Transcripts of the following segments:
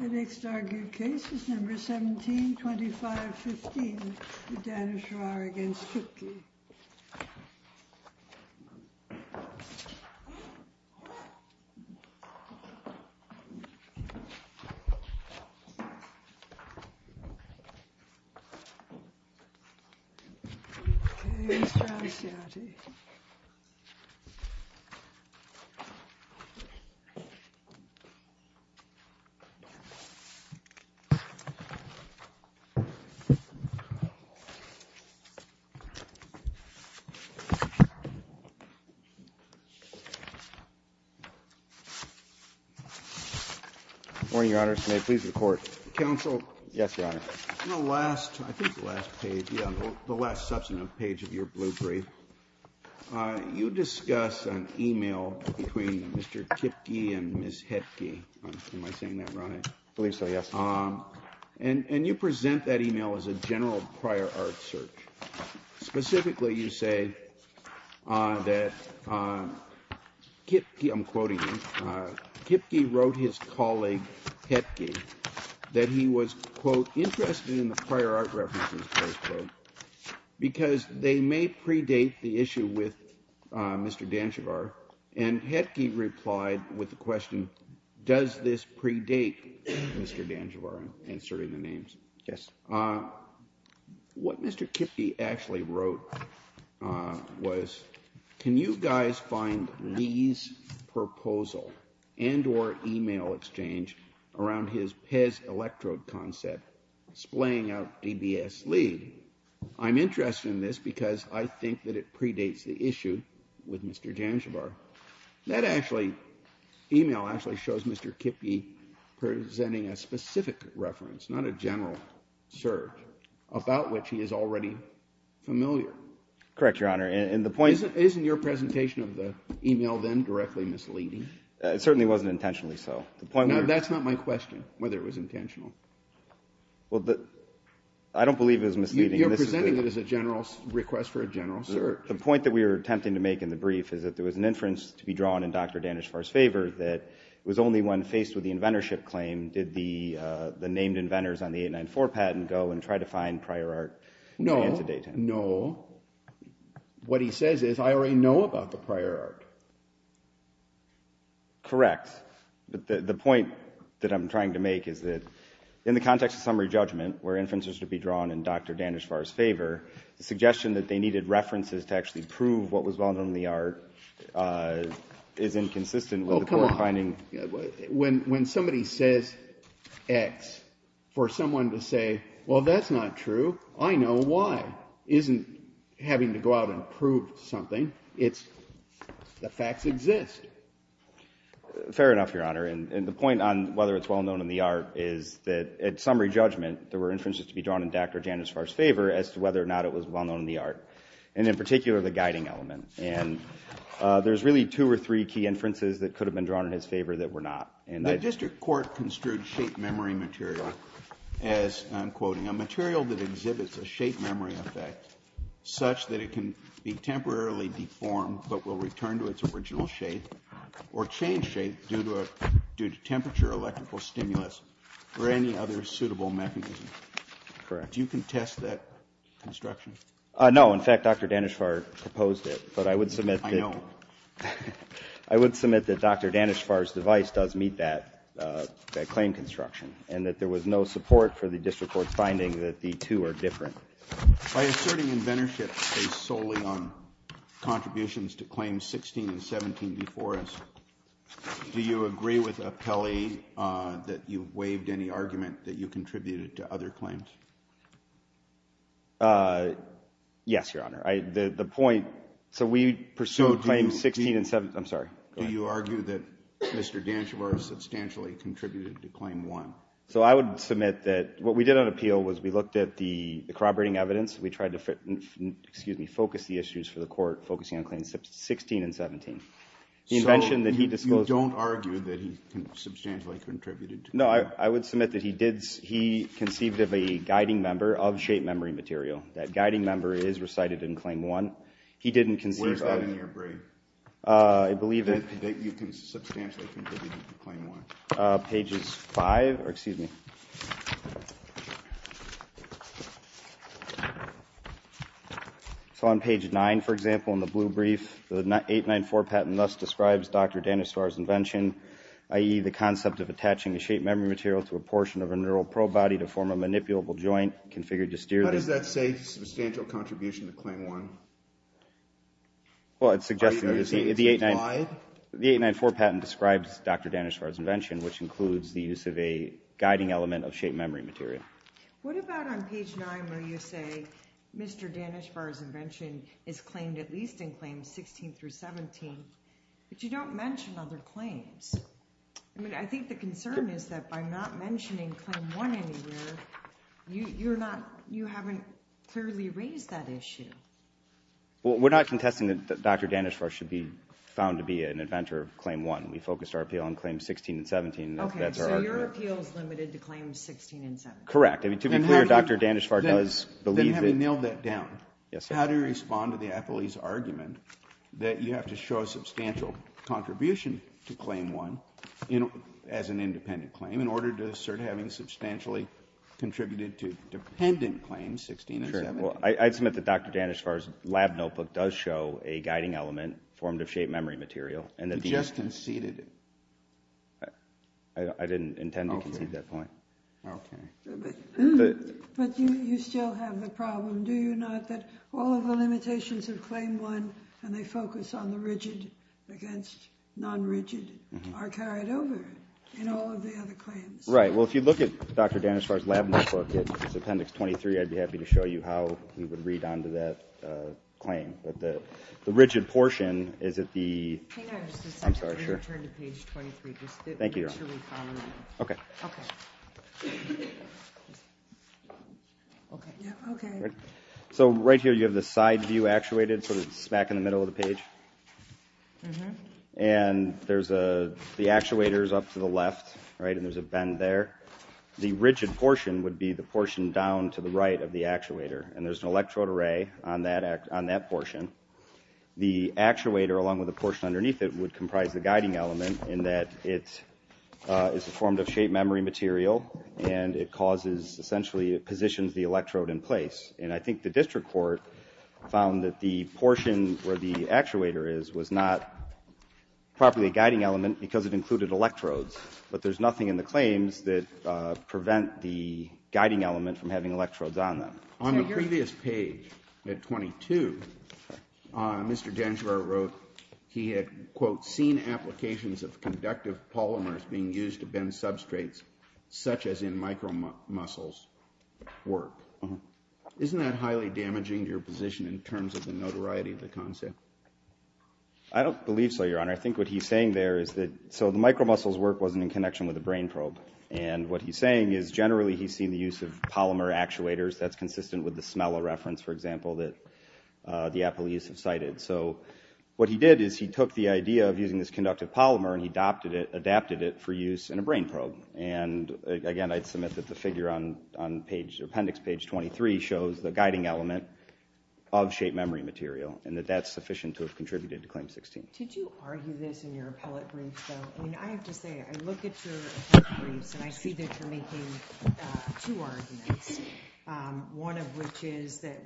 The next argued case is number 17-25-15, Daneshvar v. Kipke. Daneshvar v. Kipke Good morning, Your Honor. May it please the Court. Counsel? Yes, Your Honor. On the last, I think the last page, yeah, the last substantive page of your blue brief, you discuss an e-mail between Mr. Kipke and Ms. Hetke. Am I saying that right? I believe so, yes. And you present that e-mail as a general prior art search. Specifically, you say that Kipke, I'm quoting you, Kipke wrote his colleague Hetke that he was, quote, Yes. What Mr. Kipke actually wrote was, can you guys find Lee's proposal and or e-mail exchange around his Pez electrode concept, splaying out DBS Lee? I'm interested in this because I think that it predates the issue with Mr. Daneshvar. That actually, e-mail actually shows Mr. Kipke presenting a specific reference, not a general search, about which he is already familiar. Correct, Your Honor. And the point Isn't your presentation of the e-mail then directly misleading? It certainly wasn't intentionally so. Now, that's not my question, whether it was intentional. Well, I don't believe it was misleading. You're presenting it as a general request for a general search. The point that we were attempting to make in the brief is that there was an inference to be drawn in Dr. Daneshvar's favor that it was only when faced with the inventorship claim did the named inventors on the 894 patent go and try to find prior art. No, no. What he says is I already know about the prior art. Correct. The point that I'm trying to make is that in the context of summary judgment, where inferences should be drawn in Dr. Daneshvar's favor, the suggestion that they needed references to actually prove what was well known in the art is inconsistent with the court finding When somebody says X, for someone to say, well, that's not true, I know Y, isn't having to go out and prove something. It's the facts exist. Fair enough, Your Honor. And the point on whether it's well known in the art is that at summary judgment, there were inferences to be drawn in Dr. Daneshvar's favor as to whether or not it was well known in the art. And in particular, the guiding element. And there's really two or three key inferences that could have been drawn in his favor that were not. The district court construed shape memory material as, I'm quoting, a material that exhibits a shape memory effect such that it can be temporarily deformed but will return to its original shape or change shape due to temperature, electrical stimulus, or any other suitable mechanism. Correct. Do you contest that construction? No. In fact, Dr. Daneshvar proposed it. I know. I would submit that Dr. Daneshvar's device does meet that claim construction and that there was no support for the district court's finding that the two are different. By asserting inventorship based solely on contributions to Claims 16 and 17 before us, do you agree with Appelli that you waived any argument that you contributed to other claims? Yes, Your Honor. The point so we pursued Claims 16 and 17. I'm sorry. Do you argue that Mr. Daneshvar substantially contributed to Claim 1? So I would submit that what we did on appeal was we looked at the corroborating evidence. We tried to focus the issues for the court focusing on Claims 16 and 17. So you don't argue that he substantially contributed to Claim 1? No, I would submit that he conceived of a guiding member of shape memory material. That guiding member is recited in Claim 1. Where is that in your brief? I believe that you can substantially contribute to Claim 1. Pages 5. Excuse me. So on page 9, for example, in the blue brief, the 894 patent thus describes Dr. Daneshvar's invention, i.e., the concept of attaching a shape memory material to a portion of a neural probe body to form a manipulable joint configured to steer it. How does that say substantial contribution to Claim 1? Well, it's suggesting that the 894 patent describes Dr. Daneshvar's invention, which includes the use of a guiding element of shape memory material. What about on page 9 where you say Mr. Daneshvar's invention is claimed at least in Claims 16 through 17, but you don't mention other claims? I mean, I think the concern is that by not mentioning Claim 1 anywhere, you haven't clearly raised that issue. Well, we're not contesting that Dr. Daneshvar should be found to be an inventor of Claim 1. We focused our appeal on Claims 16 and 17. Okay, so your appeal is limited to Claims 16 and 17. Correct. I mean, to be clear, Dr. Daneshvar does believe that. Then have you nailed that down? Yes, sir. How do you respond to the athlete's argument that you have to show substantial contribution to Claim 1 as an independent claim in order to assert having substantially contributed to dependent Claims 16 and 17? Sure. Well, I'd submit that Dr. Daneshvar's lab notebook does show a guiding element formed of shape memory material. You just conceded it. I didn't intend to concede that point. Okay. But you still have the problem, do you not, that all of the limitations of Claim 1 and they focus on the rigid against non-rigid are carried over in all of the other claims? Right. Well, if you look at Dr. Daneshvar's lab notebook, it's Appendix 23. I'd be happy to show you how we would read on to that claim. But the rigid portion is at the – Hang on just a second. I'm sorry, sure. I'm going to turn to Page 23. Thank you, Your Honor. Just make sure we follow that. Okay. Okay. Okay. Yeah, okay. So right here you have the side view actuated sort of smack in the middle of the page. Mm-hmm. And there's a – the actuator is up to the left, right, and there's a bend there. The rigid portion would be the portion down to the right of the actuator, and there's an electrode array on that portion. The actuator, along with the portion underneath it, would comprise the guiding element in that it is a form of shape memory material, and it causes – essentially it positions the electrode in place. And I think the district court found that the portion where the actuator is was not properly a guiding element because it included electrodes. But there's nothing in the claims that prevent the guiding element from having electrodes on them. On the previous page at 22, Mr. Dengereau wrote he had, quote, of conductive polymers being used to bend substrates such as in micromuscles work. Mm-hmm. Isn't that highly damaging to your position in terms of the notoriety of the concept? I don't believe so, Your Honor. I think what he's saying there is that – so the micromuscles work wasn't in connection with the brain probe. And what he's saying is generally he's seen the use of polymer actuators. That's consistent with the Smela reference, for example, that the appellees have cited. So what he did is he took the idea of using this conductive polymer and he adapted it for use in a brain probe. And, again, I'd submit that the figure on appendix page 23 shows the guiding element of shape memory material and that that's sufficient to have contributed to Claim 16. Did you argue this in your appellate brief, though? I mean, I have to say, I look at your briefs and I see that you're making two arguments, one of which is that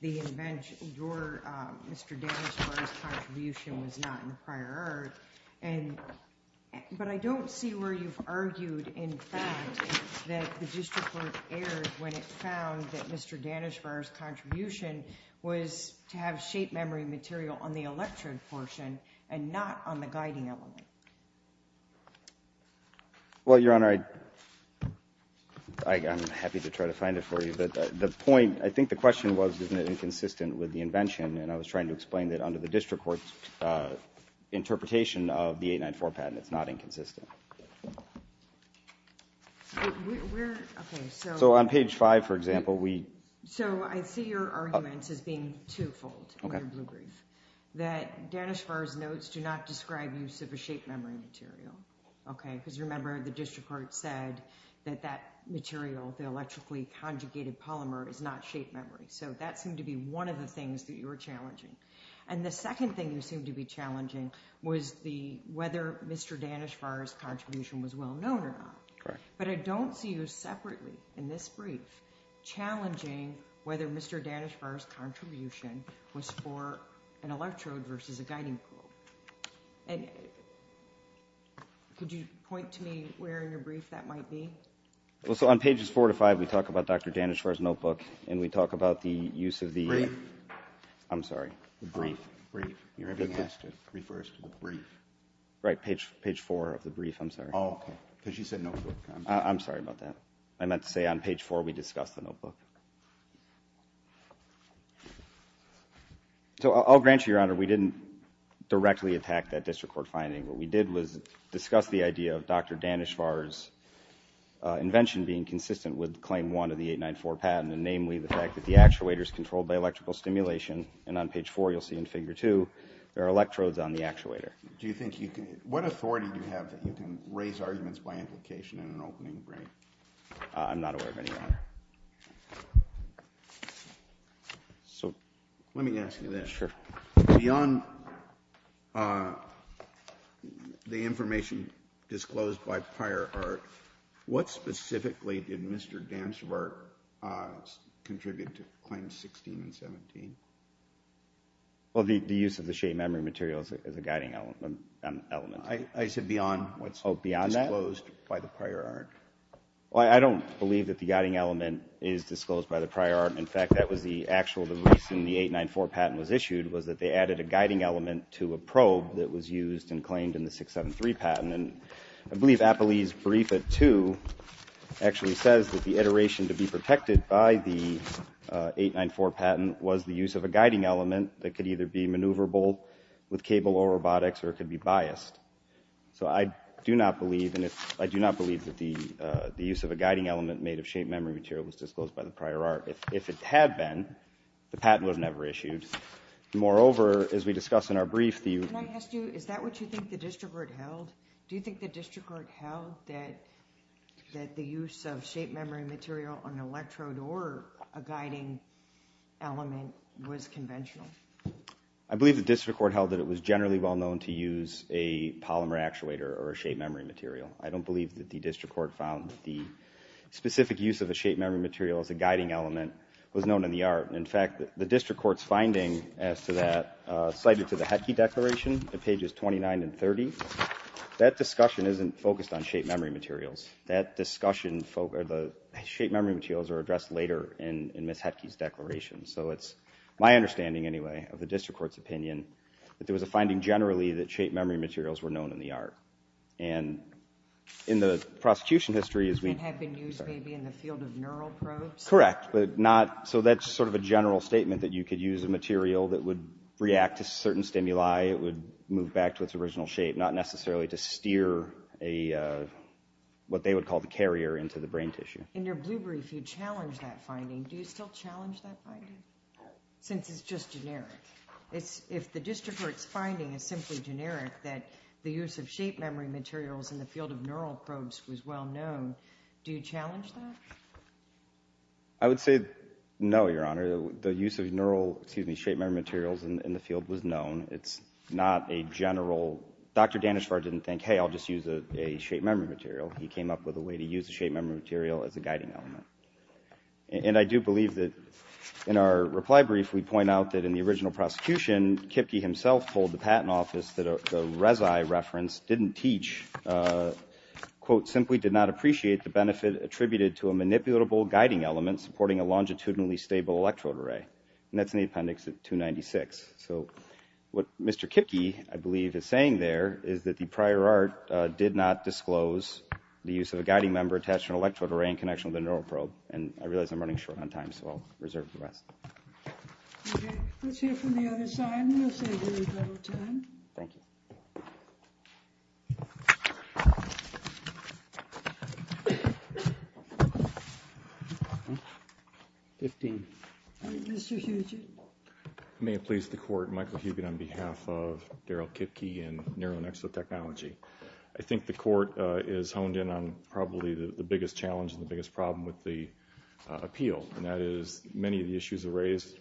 the invention, your, Mr. Danishvar's contribution was not in prior art. But I don't see where you've argued, in fact, that the district court erred when it found that Mr. Danishvar's contribution was to have shape memory material on the electrode portion and not on the guiding element. Well, Your Honor, I'm happy to try to find it for you. But the point, I think the question was, isn't it inconsistent with the invention? And I was trying to explain that under the district court's interpretation of the 894 patent, it's not inconsistent. So on page 5, for example, we... So I see your arguments as being twofold in your blue brief, that Danishvar's notes do not describe use of a shape memory material, okay? Because remember, the district court said that that material, the electrically conjugated polymer, is not shape memory. So that seemed to be one of the things that you were challenging. And the second thing you seemed to be challenging was the, whether Mr. Danishvar's contribution was well known or not. But I don't see you separately in this brief challenging whether Mr. Danishvar's contribution was for an electrode versus a guiding probe. And could you point to me where in your brief that might be? Well, so on pages 4 to 5, we talk about Dr. Danishvar's notebook, and we talk about the use of the... Brief. I'm sorry, the brief. Brief. You're being asked to refer us to the brief. Right, page 4 of the brief, I'm sorry. Oh, okay. Because she said notebook. I'm sorry about that. I meant to say on page 4 we discussed the notebook. So I'll grant you, Your Honor, we didn't directly attack that district court finding. What we did was discuss the idea of Dr. Danishvar's invention being consistent with Claim 1 of the 894 patent, and namely the fact that the actuator is controlled by electrical stimulation. And on page 4, you'll see in Figure 2, there are electrodes on the actuator. Do you think you can, what authority do you have that you can raise arguments by implication in an opening brief? I'm not aware of any, Your Honor. Let me ask you this. Sure. Beyond the information disclosed by prior art, what specifically did Mr. Danishvar contribute to Claims 16 and 17? Well, the use of the shape memory material is a guiding element. I said beyond what's disclosed by the prior art. Well, I don't believe that the guiding element is disclosed by the prior art. In fact, that was the actual, the reason the 894 patent was issued was that they added a guiding element to a probe that was used and claimed in the 673 patent. And I believe Apolli's brief at 2 actually says that the iteration to be protected by the 894 patent was the use of a guiding element that could either be maneuverable with cable or robotics, or it could be biased. So I do not believe, and I do not believe that the use of a guiding element made of shape memory material was disclosed by the prior art. If it had been, the patent would have never issued. Moreover, as we discuss in our brief, the – Can I ask you, is that what you think the district court held? Do you think the district court held that the use of shape memory material on an electrode or a guiding element was conventional? I believe the district court held that it was generally well known to use a polymer actuator or a shape memory material. I don't believe that the district court found the specific use of a shape memory material as a guiding element was known in the art. In fact, the district court's finding as to that cited to the Hetke Declaration, on pages 29 and 30, that discussion isn't focused on shape memory materials. That discussion, or the shape memory materials, are addressed later in Ms. Hetke's Declaration. So it's my understanding, anyway, of the district court's opinion, that there was a finding generally that shape memory materials were known in the art. And in the prosecution history, as we – And have been used maybe in the field of neural probes? Correct, but not – so that's sort of a general statement, that you could use a material that would react to certain stimuli. It would move back to its original shape, not necessarily to steer a – what they would call the carrier into the brain tissue. In your blue brief, you challenge that finding. Do you still challenge that finding, since it's just generic? If the district court's finding is simply generic, that the use of shape memory materials in the field of neural probes was well known, do you challenge that? I would say no, Your Honor. The use of neural – excuse me – shape memory materials in the field was known. It's not a general – Dr. Danishvar didn't think, hey, I'll just use a shape memory material. He came up with a way to use a shape memory material as a guiding element. And I do believe that in our reply brief, we point out that in the original prosecution, Kipke himself told the Patent Office that the Rezae reference didn't teach, quote, simply did not appreciate the benefit attributed to a manipulatable guiding element supporting a longitudinally stable electrode array. And that's in the appendix at 296. So what Mr. Kipke, I believe, is saying there is that the prior art did not disclose the use of a guiding member attached to an electrode array in connection with a neural probe. And I realize I'm running short on time, so I'll reserve the rest. Okay. Let's hear from the other side, and we'll save you a little time. Thank you. 15. All right, Mr. Huget. May it please the Court, Michael Huget on behalf of Daryl Kipke and Neuronexo Technology. I think the Court is honed in on probably the biggest challenge and the biggest problem with the appeal, and that is many of the issues raised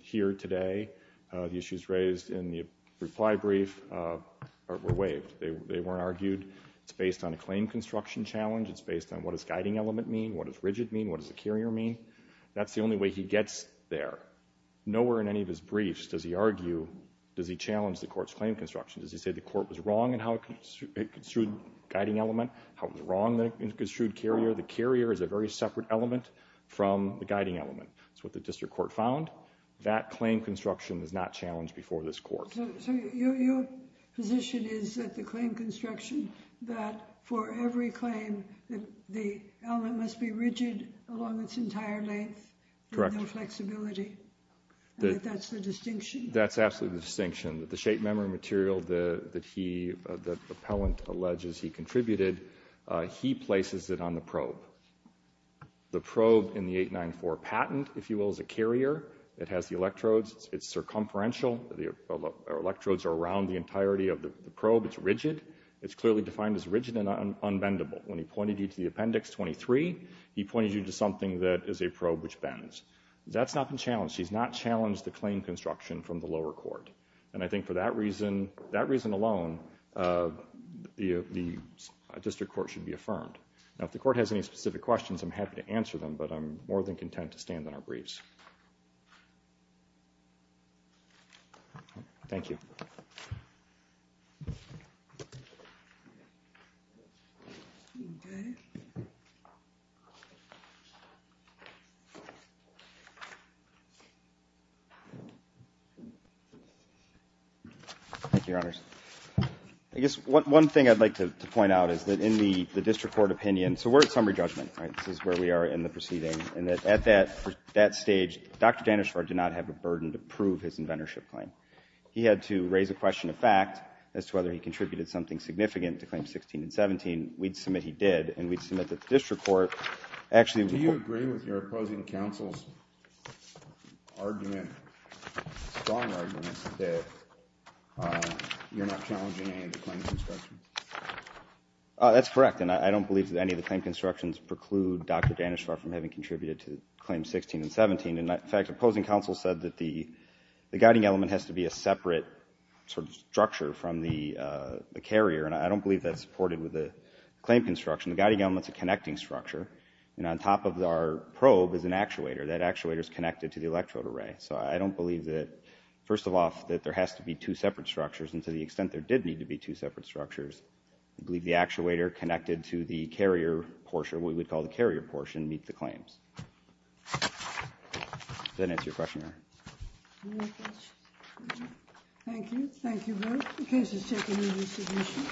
here today, the issues raised in the reply brief were waived. They weren't argued. It's based on a claim construction challenge. It's based on what does guiding element mean, what does rigid mean, what does a carrier mean. That's the only way he gets there. Nowhere in any of his briefs does he argue, does he challenge the Court's claim construction. Does he say the Court was wrong in how it construed guiding element, how it was wrong in how it construed carrier. The carrier is a very separate element from the guiding element. That's what the District Court found. That claim construction is not challenged before this Court. So your position is that the claim construction, that for every claim the element must be rigid along its entire length and no flexibility. That's the distinction. That's absolutely the distinction. The shape memory material that the appellant alleges he contributed, he places it on the probe. The probe in the 894 patent, if you will, is a carrier. It has the electrodes. The electrodes are around the entirety of the probe. It's rigid. It's clearly defined as rigid and unbendable. When he pointed you to the Appendix 23, he pointed you to something that is a probe which bends. That's not been challenged. He's not challenged the claim construction from the lower court. And I think for that reason, that reason alone, the District Court should be affirmed. Now, if the Court has any specific questions, I'm happy to answer them, but I'm more than content to stand on our briefs. Thank you. Okay. Thank you, Your Honors. I guess one thing I'd like to point out is that in the District Court opinion, so we're at summary judgment, right? This is where we are in the proceeding, and that at that stage, Dr. Danishvar did not have a burden to prove his inventorship claim. He had to raise a question of fact as to whether he contributed something significant to Claims 16 and 17. We'd submit he did, and we'd submit that the District Court actually would. Do you agree with your opposing counsel's argument, strong argument, that you're not challenging any of the claim construction? That's correct, and I don't believe that any of the claim constructions preclude Dr. Danishvar from having contributed to Claims 16 and 17. In fact, opposing counsel said that the guiding element has to be a separate sort of structure from the carrier, and I don't believe that's supported with the claim construction. The guiding element's a connecting structure, and on top of our probe is an actuator. That actuator's connected to the electrode array. So I don't believe that, first of all, that there has to be two separate structures, and to the extent there did need to be two separate structures, I believe the actuator connected to the carrier portion, what we'd call the carrier portion, meets the claims. Does that answer your question, Your Honor? Thank you. Thank you both. The case is taken into submission.